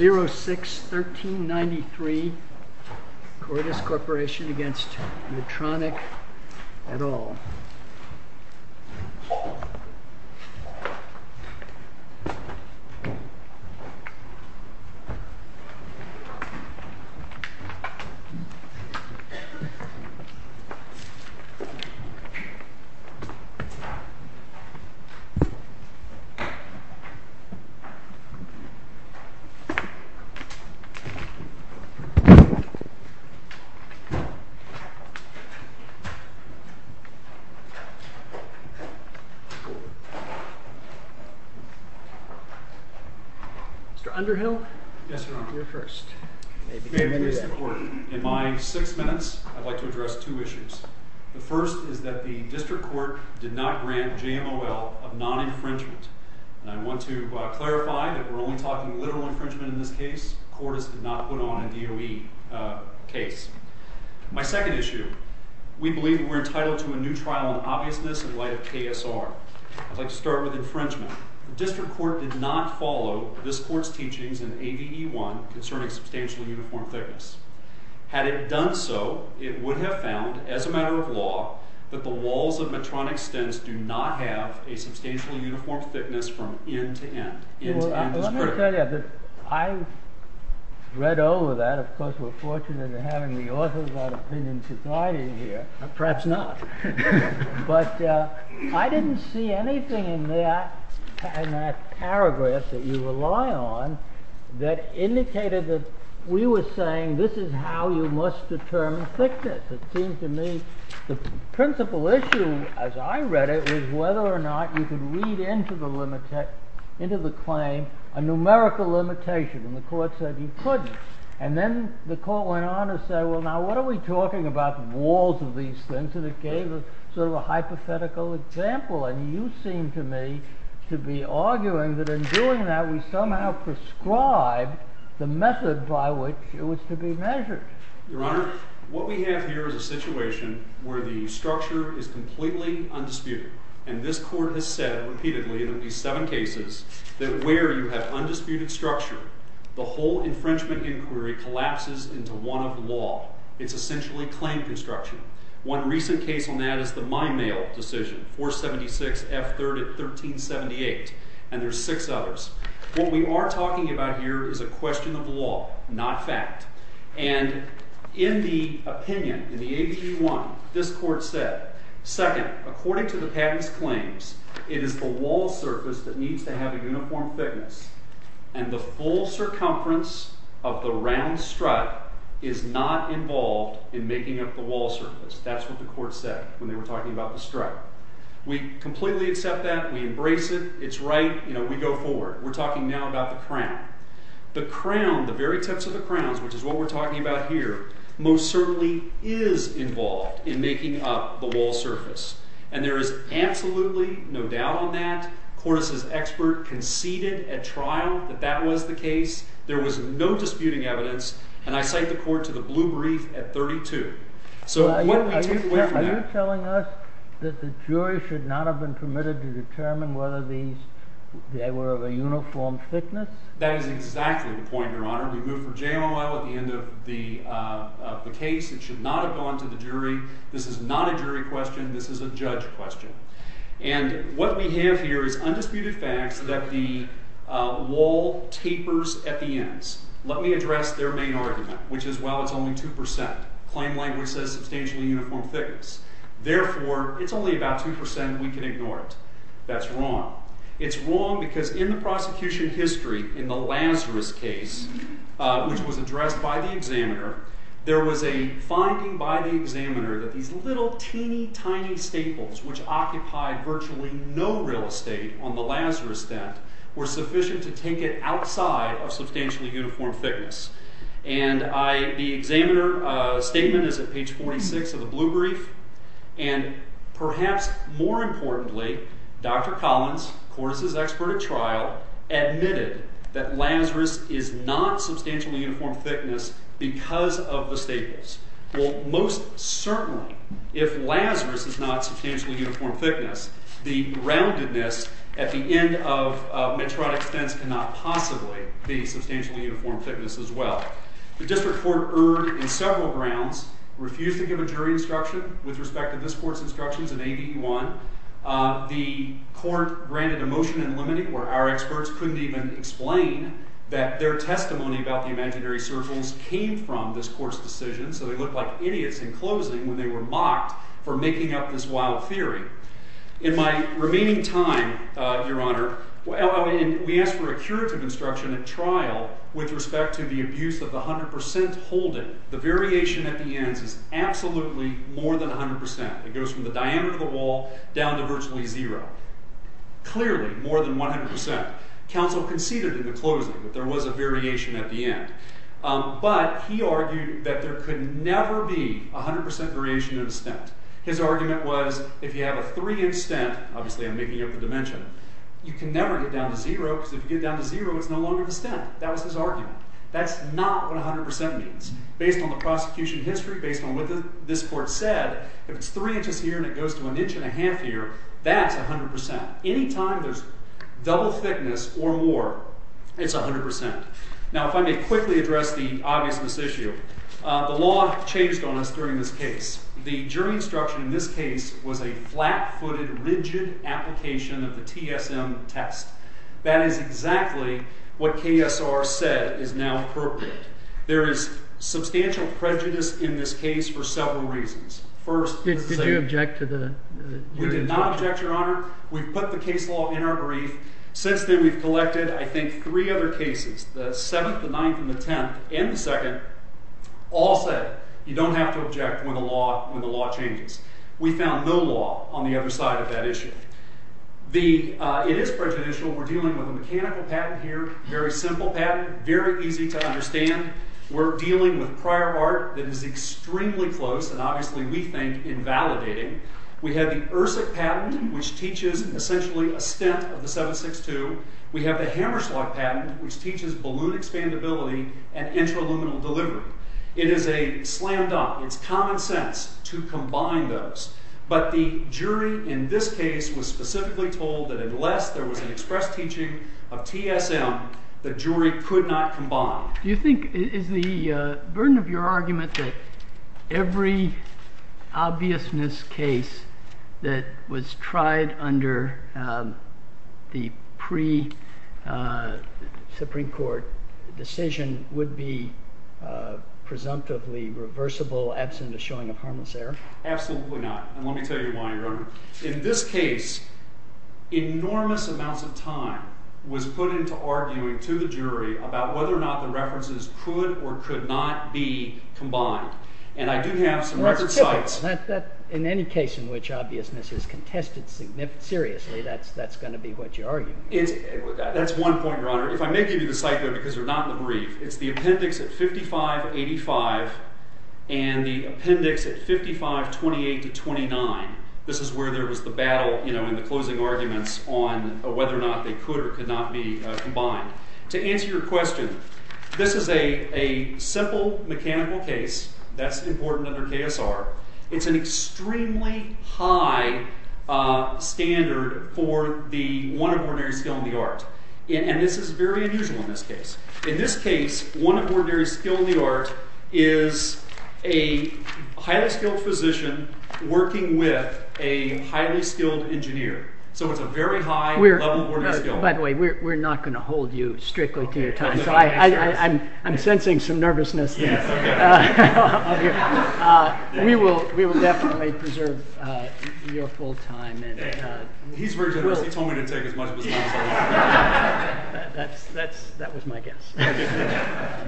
06-1393 Cordis Corporation v. Medtronic et al. In my six minutes I'd like to address two issues. The first is that the district court did not grant JMOL a non-infringement. And I want to clarify that we're only talking literal infringement in this case. Cordis did not put on a DOE case. My second issue, we believe we're entitled to a new trial in obviousness in light of KSR. I'd like to start with infringement. The district court did not follow this court's teachings in ADE 1 concerning substantial uniform clearance. Had it done so, it would have found, as a matter of law, that the walls of Medtronic Stens do not have a substantial uniform thickness from end to end. I read over that. Of course, we're fortunate in having the Authors Without Opinion Society here. Perhaps not. But I didn't see anything in that paragraph that you rely on that indicated that we were saying, this is how you must determine thickness. It seems to me the principal issue, as I read it, was whether or not you could read into the claim a numerical limitation. And the court said you couldn't. And then the court went on to say, well, now what are we talking about the walls of these things? And it gave sort of a hypothetical example. And you seem to me to be arguing that in doing that, we somehow prescribed the method by which it was to be measured. Your Honor, what we have here is a situation where the structure is completely undisputed. And this court has said repeatedly in at least seven cases that where you have undisputed structure, the whole infringement inquiry collapses into one of the law. It's essentially claim construction. One recent case on that is the Mind Mail decision, 476 F. 3rd of 1378. And there's six others. What we are talking about here is a question of law, not fact. And in the opinion, in the ABG 1, this court said, second, according to the patent's claims, it is the wall surface that needs to have a uniform thickness. And the full circumference of the round strut is not involved in making up the wall surface. That's what the court said when they were talking about the strut. We completely accept that. We embrace it. We go forward. We're talking now about the crown. The crown, the very tips of the crowns, which is what we're talking about here, most certainly is involved in making up the wall surface. And there is absolutely no doubt on that. Horace's expert conceded at trial that that was the case. There was no disputing evidence. And I cite the court to the blue brief at 32. So what we do— Are you telling us that the jury should not have been permitted to determine whether these, they were of a uniform thickness? That is exactly the point, Your Honor. We moved for jail a while at the end of the case. It should not have gone to the jury. This is not a jury question. This is a judge question. And what we have here is undisputed fact that the wall tapers at the ends. Let me address their main argument, which is, well, it's only 2%. Claim language says substantially uniform thickness. Therefore, it's only about 2% and we can ignore it. That's wrong. It's wrong because in the prosecution's history, in the Lazarus case, which was addressed by the examiner, there was a finding by the examiner that these little, teeny, tiny staples, which occupied virtually no real estate on the Lazarus death, were sufficient to take it outside of substantially uniform thickness. And the examiner's statement is at page 46 of the blue brief. And perhaps more importantly, Dr. Collins, of course, is an expert at trial, admitted that Lazarus is not substantially uniform thickness because of the staples. Well, most certainly, if Lazarus is not substantially uniform thickness, the roundedness at the end of a metrotic sentence cannot possibly be substantially uniform thickness as well. The district court urged on several grounds, refused to give a jury instruction with respect to this court's instructions in AB1. The court granted a motion in limiting, where our experts couldn't even explain that their testimony about the imaginary circles came from this court's decision, so they looked like idiots in closing when they were mocked for making up this wild theory. In my remaining time, Your Honor, we asked for a curative instruction at trial with respect to the abuse of the 100% holding. The variation at the end is absolutely more than 100%. It goes from the diameter of the wall down to virtually zero. Clearly more than 100%. Counsel conceded in the closing that there was a variation at the end. But he argued that there could never be a 100% variation in a stent. His argument was, if you have a three-inch stent, obviously I'm making it for dimension, you can never get down to zero, because if you get down to zero, it's no longer a stent. That was his argument. That's not what 100% means. Based on the prosecution history, based on what this court said, if it's three inches here and it goes to an inch and a half here, that's 100%. Any time there's double thickness or more, it's 100%. Now, if I may quickly address the obvious mistake here. The law chased on us during this case. The jury instruction in this case was a flat-footed, rigid application of the TSM test. That is exactly what KSR said is now appropriate. There is substantial prejudice in this case for several reasons. First... Did you object to the... We did not object, Your Honor. We put the case law in our brief. Since then, we've collected, I think, three other cases, the 7th, the 9th, and the 10th, and the 2nd, all said you don't have to object when the law changes. We found no law on the other side of that issue. It is prejudicial. We're dealing with a mechanical patent here, a very simple patent, very easy to understand. We're dealing with prior art that is extremely close and obviously, we think, invalidating. We have the Irsek patent, which teaches essentially a stint of the 7.62. We have the Hammerschlag patent, which teaches balloon expandability and inter-aluminum delivery. It is a slam dunk. It's common sense to combine those. But the jury in this case was specifically told that unless there was an express teaching of TSM, the jury could not combine. Do you think... Is the burden of your argument that every obviousness case that was tried under the pre-Supreme Court decision would be presumptively reversible absent the showing of harmless error? Absolutely not. And let me tell you why, Your Honor. In this case, enormous amounts of time was put into arguing to the jury about whether or not the references could or could not be combined. And I do have some records... In any case in which obviousness is contested seriously, that's going to be what you argue. That's one point, Your Honor. If I may give you the cycle, because they're not that brief, it's the appendix at 5585 and the appendix at 5528-29. This is where there was the battle in the closing arguments on whether or not they could or could not be combined. To answer your question, this is a simple mechanical case that's important under KSR. It's an extremely high standard for the one-of-ordinary skill in the arts. And this is very unusual in this case. In this case, one-of-ordinary skill in the arts is a highly-skilled physician working with a highly-skilled engineer. So it's a very high level of... By the way, we're not going to hold you strictly to your time, so I'm sensing some nervousness here. We will definitely preserve your full time. He's very good. He told me to take as much as I can. That was my guess.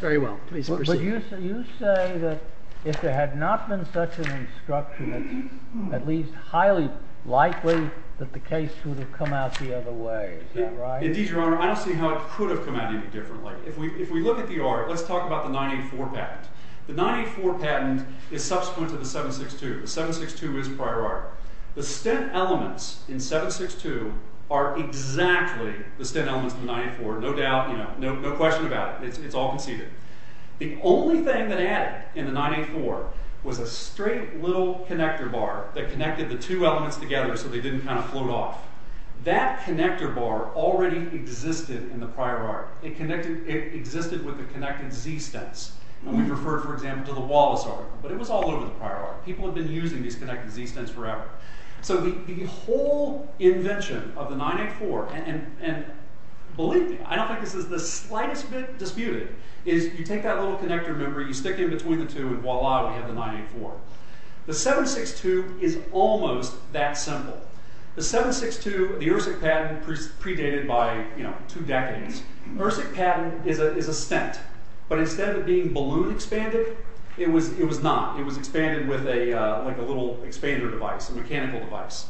Very well. Please proceed. But you say that if there had not been such an instruction, at least highly likely that the case would have come out the other way. Is that right? Indeed, Your Honor. I don't see how it could have come out any differently. If we look at the art, let's talk about the 984 patent. The 984 patent is subsequent to the 762. The 762 is prior art. The stint elements in 762 are exactly the stint elements in 984. No doubt. No question about it. It's all conceived. The only thing that adds in the 984 was a straight little connector bar that connected the two elements together so they didn't kind of float off. That connector bar already existed in the prior art. It existed with the connected Z-stints. We refer, for example, to the Wallace article. But it was all over the prior art. People have been using these connected Z-stints forever. So the whole invention of the 984... Believe me, I don't think this is the slightest bit disputed. You take that little connector, you stick it in between the two, and voila, we have the 984. The 762 is almost that simple. The 762, the URSIC patent, predated by two decades. The URSIC patent is a stint. But instead of being balloon-expanded, it was not. It was expanded with a little expander device, a mechanical device.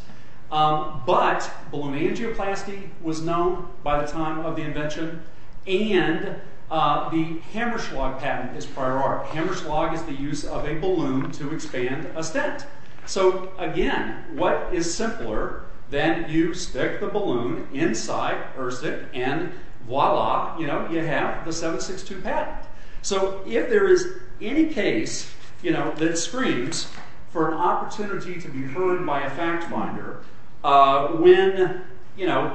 But balloon energy was known by the time of the invention, and the Hammerschlag patent is prior art. Hammerschlag is the use of a balloon to expand a stint. So, again, what is simpler than you stick the balloon inside URSIC, and voila, you have the 762 patent. So if there is any case that screams for an opportunity to be ruined by a fact finder, when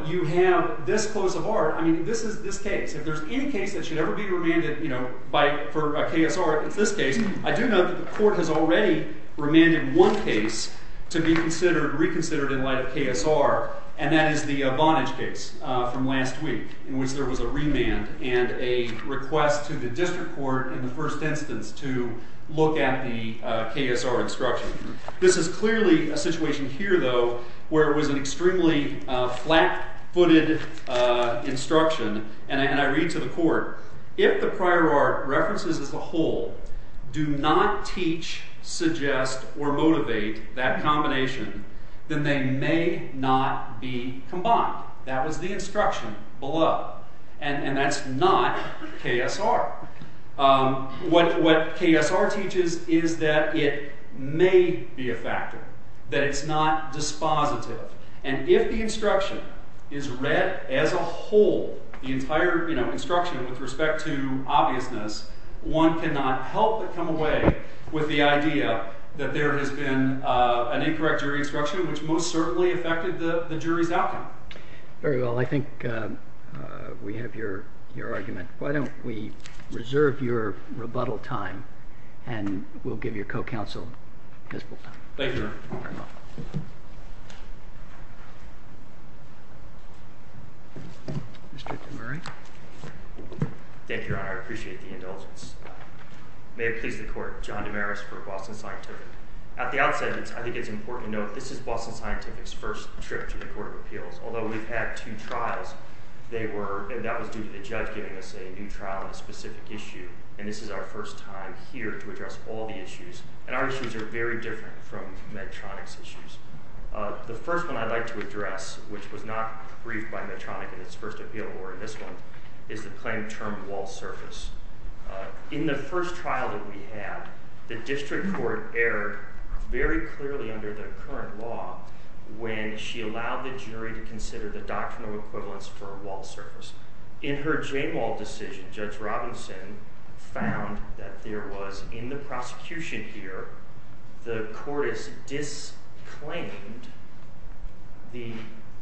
you have this close of heart, I mean, this is this case. If there's any case that should ever be remanded for a KSR like this case, I do know the court has already remanded one case to be considered, reconsidered in light of KSR, and that is the Vonage case from last week, in which there was a remand and a request to the district court in the first instance to look at the KSR instruction. This is clearly a situation here, though, where it was an extremely flat-footed instruction, and I read to the court, if the prior art references as a whole do not teach, suggest, or motivate that nomination, then they may not be combined. That was the instruction below. And that's not KSR. What KSR teaches is that it may be a factor, that it's not dispositive, and if the instruction is read as a whole, the entire instruction with respect to obviousness, one cannot help but come away with the idea that there has been an incorrect jury instruction, which most certainly affected the jury's outcome. Very well, I think we have your argument. Why don't we reserve your rebuttal time, and we'll give your co-counsel his rebuttal. Thank you, Your Honor. Mr. McMurray. Thank you, Your Honor. I appreciate the indulgence. May it please the Court, John Damaris for Boston Scientific. At the outset, I think it's important to note that this is Boston Scientific's first trip to the Court of Appeals. Although we've had two trials, they were, and that was due to the judge giving us a new trial on a specific issue, and this is our first time here to address all the issues. And our issues are very different from Medtronic's issues. The first one I'd like to address, which was not briefed by Medtronic in its first appeal, or this one, is the plain-term law service. In the first trial that we had, the district court erred very clearly under the current law when she allowed the jury to consider the doctrinal equivalence for a walled surface. In her J-Wall decision, Judge Robinson found that there was, in the prosecution here, the court has disclaimed the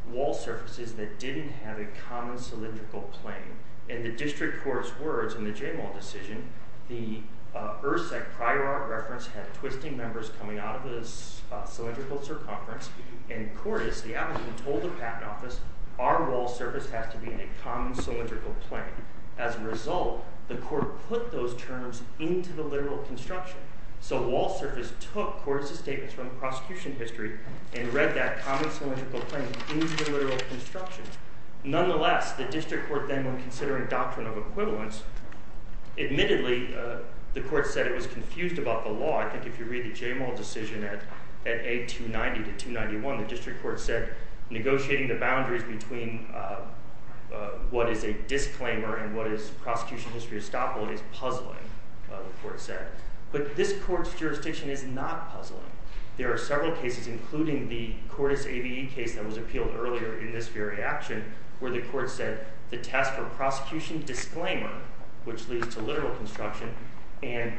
wall surfaces that didn't have a common cylindrical plane. In the district court's words, in the J-Wall decision, the ERSEC prior art reference had twisting numbers coming out of the cylindrical circumference, and in court, as the applicant told the patent office, our walled surface has to be in a common cylindrical plane. As a result, the court put those terms into the literal construction. So walled surface took courses taken from the prosecution history and read that common cylindrical plane into the literal construction. Nonetheless, the district court then, when considering doctrinal equivalence, admittedly, the court said it was confused about the law. I think if you read the J-Wall decision at A290 to 291, the district court said negotiating the boundaries between what is a disclaimer and what is prosecution history estoppel is puzzling, the court said. But this court's jurisdiction is not puzzling. There are several cases, including the Cordis ABE case that was appealed earlier in this very action, where the court said the task of prosecution disclaimer, which leads to literal construction, and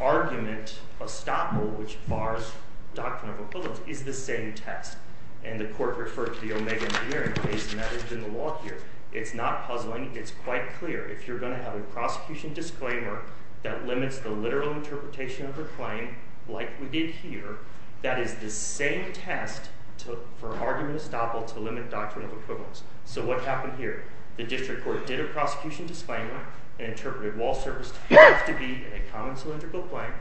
arguments estoppel, which bars doctrinal equivalence, is the same test. And the court referred to the Omega engineering case, and that is in the law here. It's not puzzling. It's quite clear. If you're going to have a prosecution disclaimer that limits the literal interpretation of the claim, like we did here, that is the same test for arguments estoppel to limit doctrinal equivalence. So what happened here? The district court did a prosecution disclaimer, interpreted walled surface as to be a common cylindrical plane.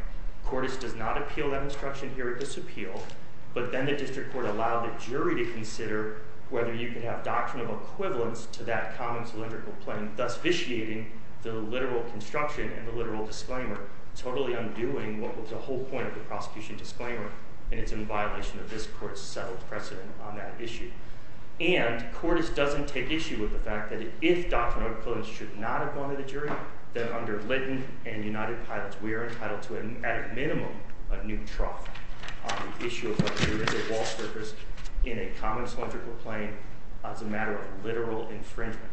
Cordis did not appeal that instruction here. It disappealed. But then the district court allowed the jury to consider whether you can have doctrinal equivalence to that common cylindrical plane, thus vitiating the literal construction and the literal disclaimer, totally undoing what was the whole point of the prosecution disclaimer, and it's in violation of this court's settled precedent on that issue. And Cordis doesn't take issue with the fact that if doctrinal equivalence should not have gone to the jury, then under Litton and United Pilots, we are entitled to, at a minimum, a new trial on the issue of whether to limit the walled surface in a common cylindrical plane as a matter of literal infringement.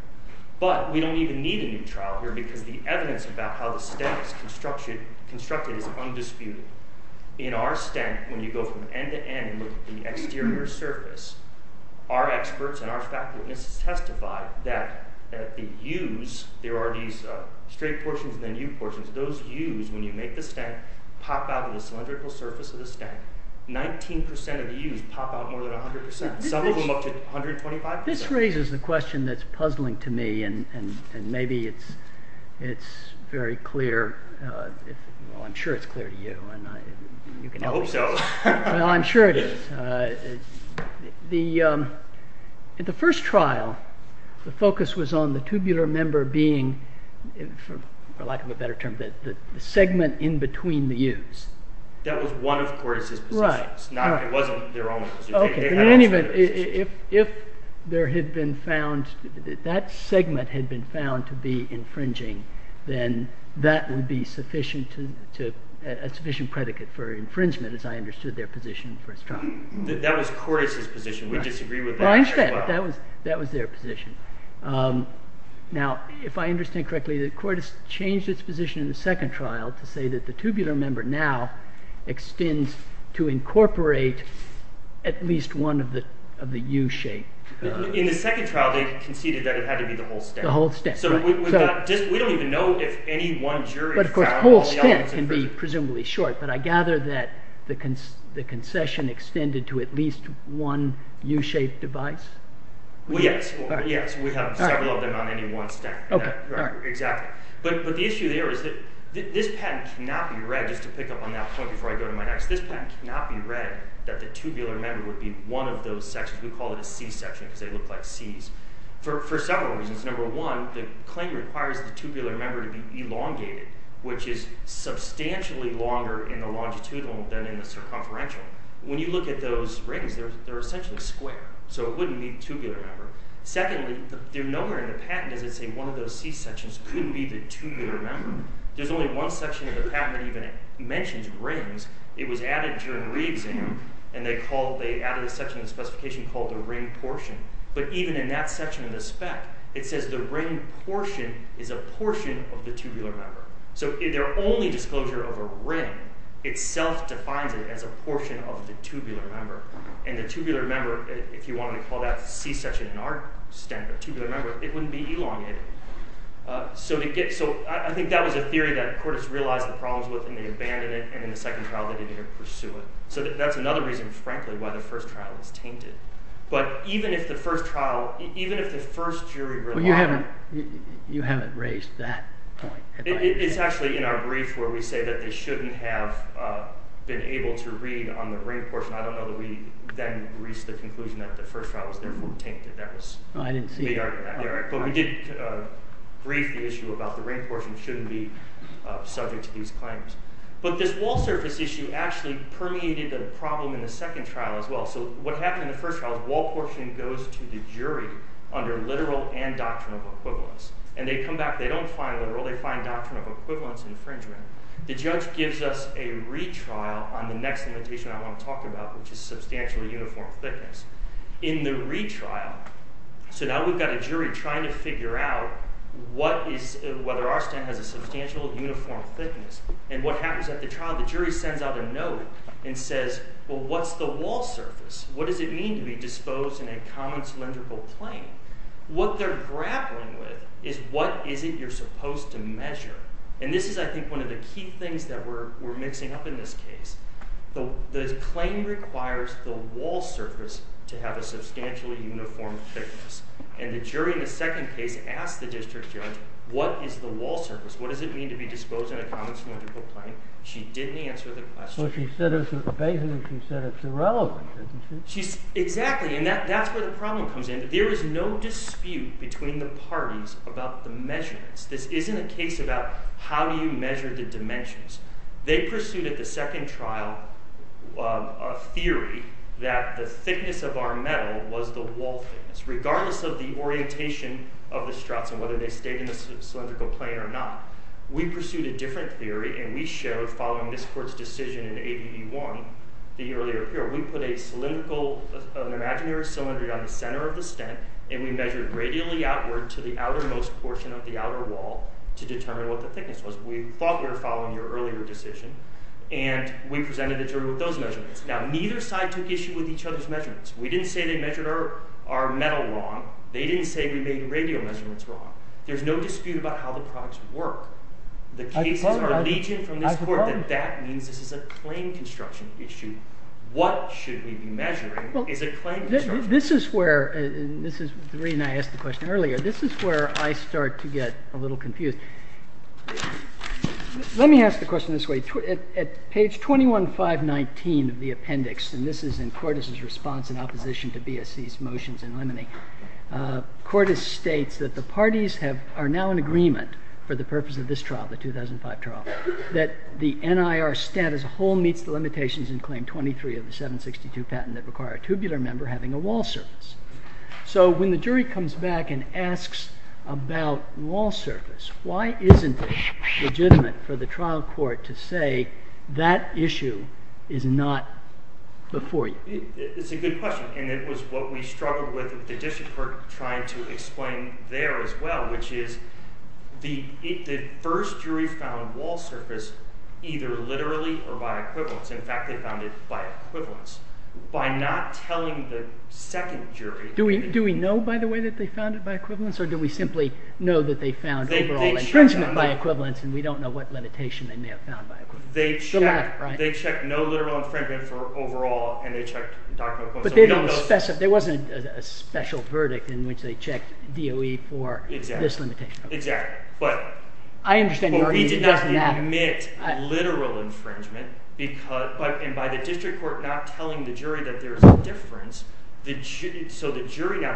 But we don't even need a new trial here because the evidence about how the stem is constructed is undisputed. In our stem, when you go from end to end with the exterior surface, our experts and our faculty have testified that the u's, there are these straight portions and then u portions, those u's, when you make the stem, pop out of the cylindrical surface of the stem. 19% of u's pop out more than 100%. Some of them up to 125%. This raises the question that's puzzling to me and maybe it's very clear. I'm sure it's clear to you. I hope so. I'm sure it is. The first trial, the focus was on the tubular member being, for lack of a better term, the segment in between the u's. That was one of Cortes' positions. It wasn't their own. In any event, if that segment had been found to be infringing, then that would be a sufficient predicate for infringement as I understood their position in the first trial. That was Cortes' position. We disagree with that. I understand. That was their position. If I understand correctly, Cortes changed its position in the second trial to say that the tubular member now extends to incorporate at least one of the u-shaped. In the second trial, they conceded that it had to be the whole stem. The whole stem. We don't even know if any one jury... The whole stem can be presumably short, but I gather that the concession extended to at least one u-shaped device. Yes. Yes. We have a table of them on anyone's deck. Exactly. But the issue there is that this patent cannot be read, just to pick up on that point before I go to my next, this patent cannot be read that the tubular member would be one of those sections. We call it a C-section because they look like C's for several reasons. Number one, the claim requires the tubular member to be elongated, which is substantially longer in the longitudinal than in the circumferential. When you look at those rings, they're essentially square, so it wouldn't need to be a tubular member. Secondly, they're nowhere in the patent if it's one of those C-sections to be the tubular member. There's only one section of the patent that even mentions rings. It was added during reading, and they added a section in the specification called the ring portion. But even in that section of the spec, it says the ring portion is a portion of the tubular member. So their only disclosure of a ring itself defines it as a portion of the tubular member, and the tubular member, if you want to call that a C-section in our standard, a tubular member, it wouldn't be elongated. So I think that was a theory that the court has realized the problems with, and they abandoned it, and in the second trial they didn't even pursue it. So that's another reason, frankly, why the first trial was tainted. But even if the first trial, even if the first jury relied on it... You haven't raised that. It's actually in our brief where we say that it shouldn't have been able to read on the ring portion. I don't know that we then reached the conclusion that the first trial was going to be tainted. That was... I didn't see it. But we did brief the issue about the ring portion shouldn't be subject to these claims. But this wall surface issue actually permeated the problem in the second trial as well. So what happened in the first trial is wall portion goes to the jury under literal and doctrinal equivalence. And they come back, they don't find it at all, they find doctrinal equivalence in the fringe ring. It just gives us a retrial on the next limitation I want to talk about, which is substantially uniform thickness. In the retrial, so now we've got a jury trying to figure out whether our stamp has a substantial uniform thickness. And what happens at the trial, the jury sends out a note and says, well, what's the wall surface? What does it mean to be disposed in a common cylindrical plane? What they're grappling with is what is it you're supposed to measure? in this case. The claim requires the wall surface to be a uniform thickness. And the jury says, well, what's the wall surface? What does it mean to be disposed in a common cylindrical plane? She didn't answer the question. So she said as an evasion, she said it's irrelevant, didn't she? Exactly. And that's where the problem comes in. There is no dispute between the parties about the measurements. at the second trial a theory that the thickness of a wall surface is the same as the thickness of a cylindrical plane. And the jury said, well, that's not true. The thickness of our metal was the wall thickness. Regardless of the orientation of the structure, whether they stay in a cylindrical plane or not, we pursued a different theory and we showed following this court's decision in ADE-1 the earlier theory. We put a cylindrical, an imaginary cylinder down the center of the stent and we measured radially outward to the outermost portion of the outer wall to determine what the thickness was. We thought they were following the earlier decision and we presented a jury with those measurements. Now, neither side took issue with each other's measurements. We didn't say they measured our metal wrong. They didn't say we made the radial measurements wrong. There's no dispute about how the products work. I suppose that means this is a claim construction issue. What should we be measuring is a claim construction issue. This is where this is the reason I asked the question earlier. This is where I start to get a little confused. Let me ask the question this way. At page 21, 519 of the appendix and this is in Cordes' response in opposition to BSC's motions in limine, Cordes states that the parties are now in agreement for the purpose of this trial, the 2005 trial, that the NIR stent as a whole meets the limitations in claim 23 of the 762 patent that require a tubular member having a wall surface. So, when the jury comes back and asks about wall surface, why isn't it legitimate for the trial court to say that issue is not before you? It's a good question and it was what we struggled with trying to explain there as well which is the first jury found wall surface either literally or by equivalence. In fact, they found it by equivalence by not telling the second jury. Do we know by the way that they found it by equivalence or do we simply know that they found it know that they found it by equivalence? They checked no literal infringement for overall and they checked document code. But there wasn't a special verdict in which they checked DOE for this limitation. Exactly. But we did not admit literal infringement and by the district court we were not telling the jury that there is a difference. So the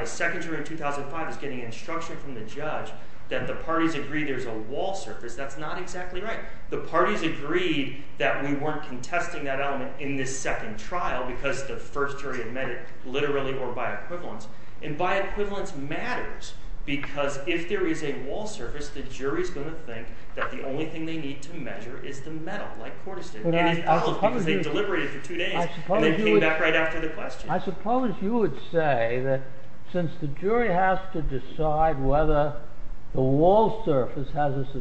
second jury in 2005 was getting instruction from the judge that the parties agreed there is a wall surface. That's not exactly right. The parties agreed that we weren't contesting that element in the second trial because the first jury admitted literally or by equivalence. And by equivalence matters because if there is a wall surface the jury is going to think that the only thing they need to measure is the metal. I suppose you would say that since the jury has to decide whether the jury is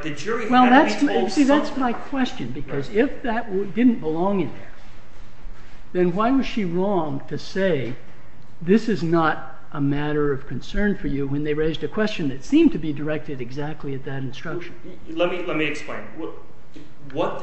be the only thing they need to measure. The second jury in 2005 was getting instruction from the jury that the parties agreed there is a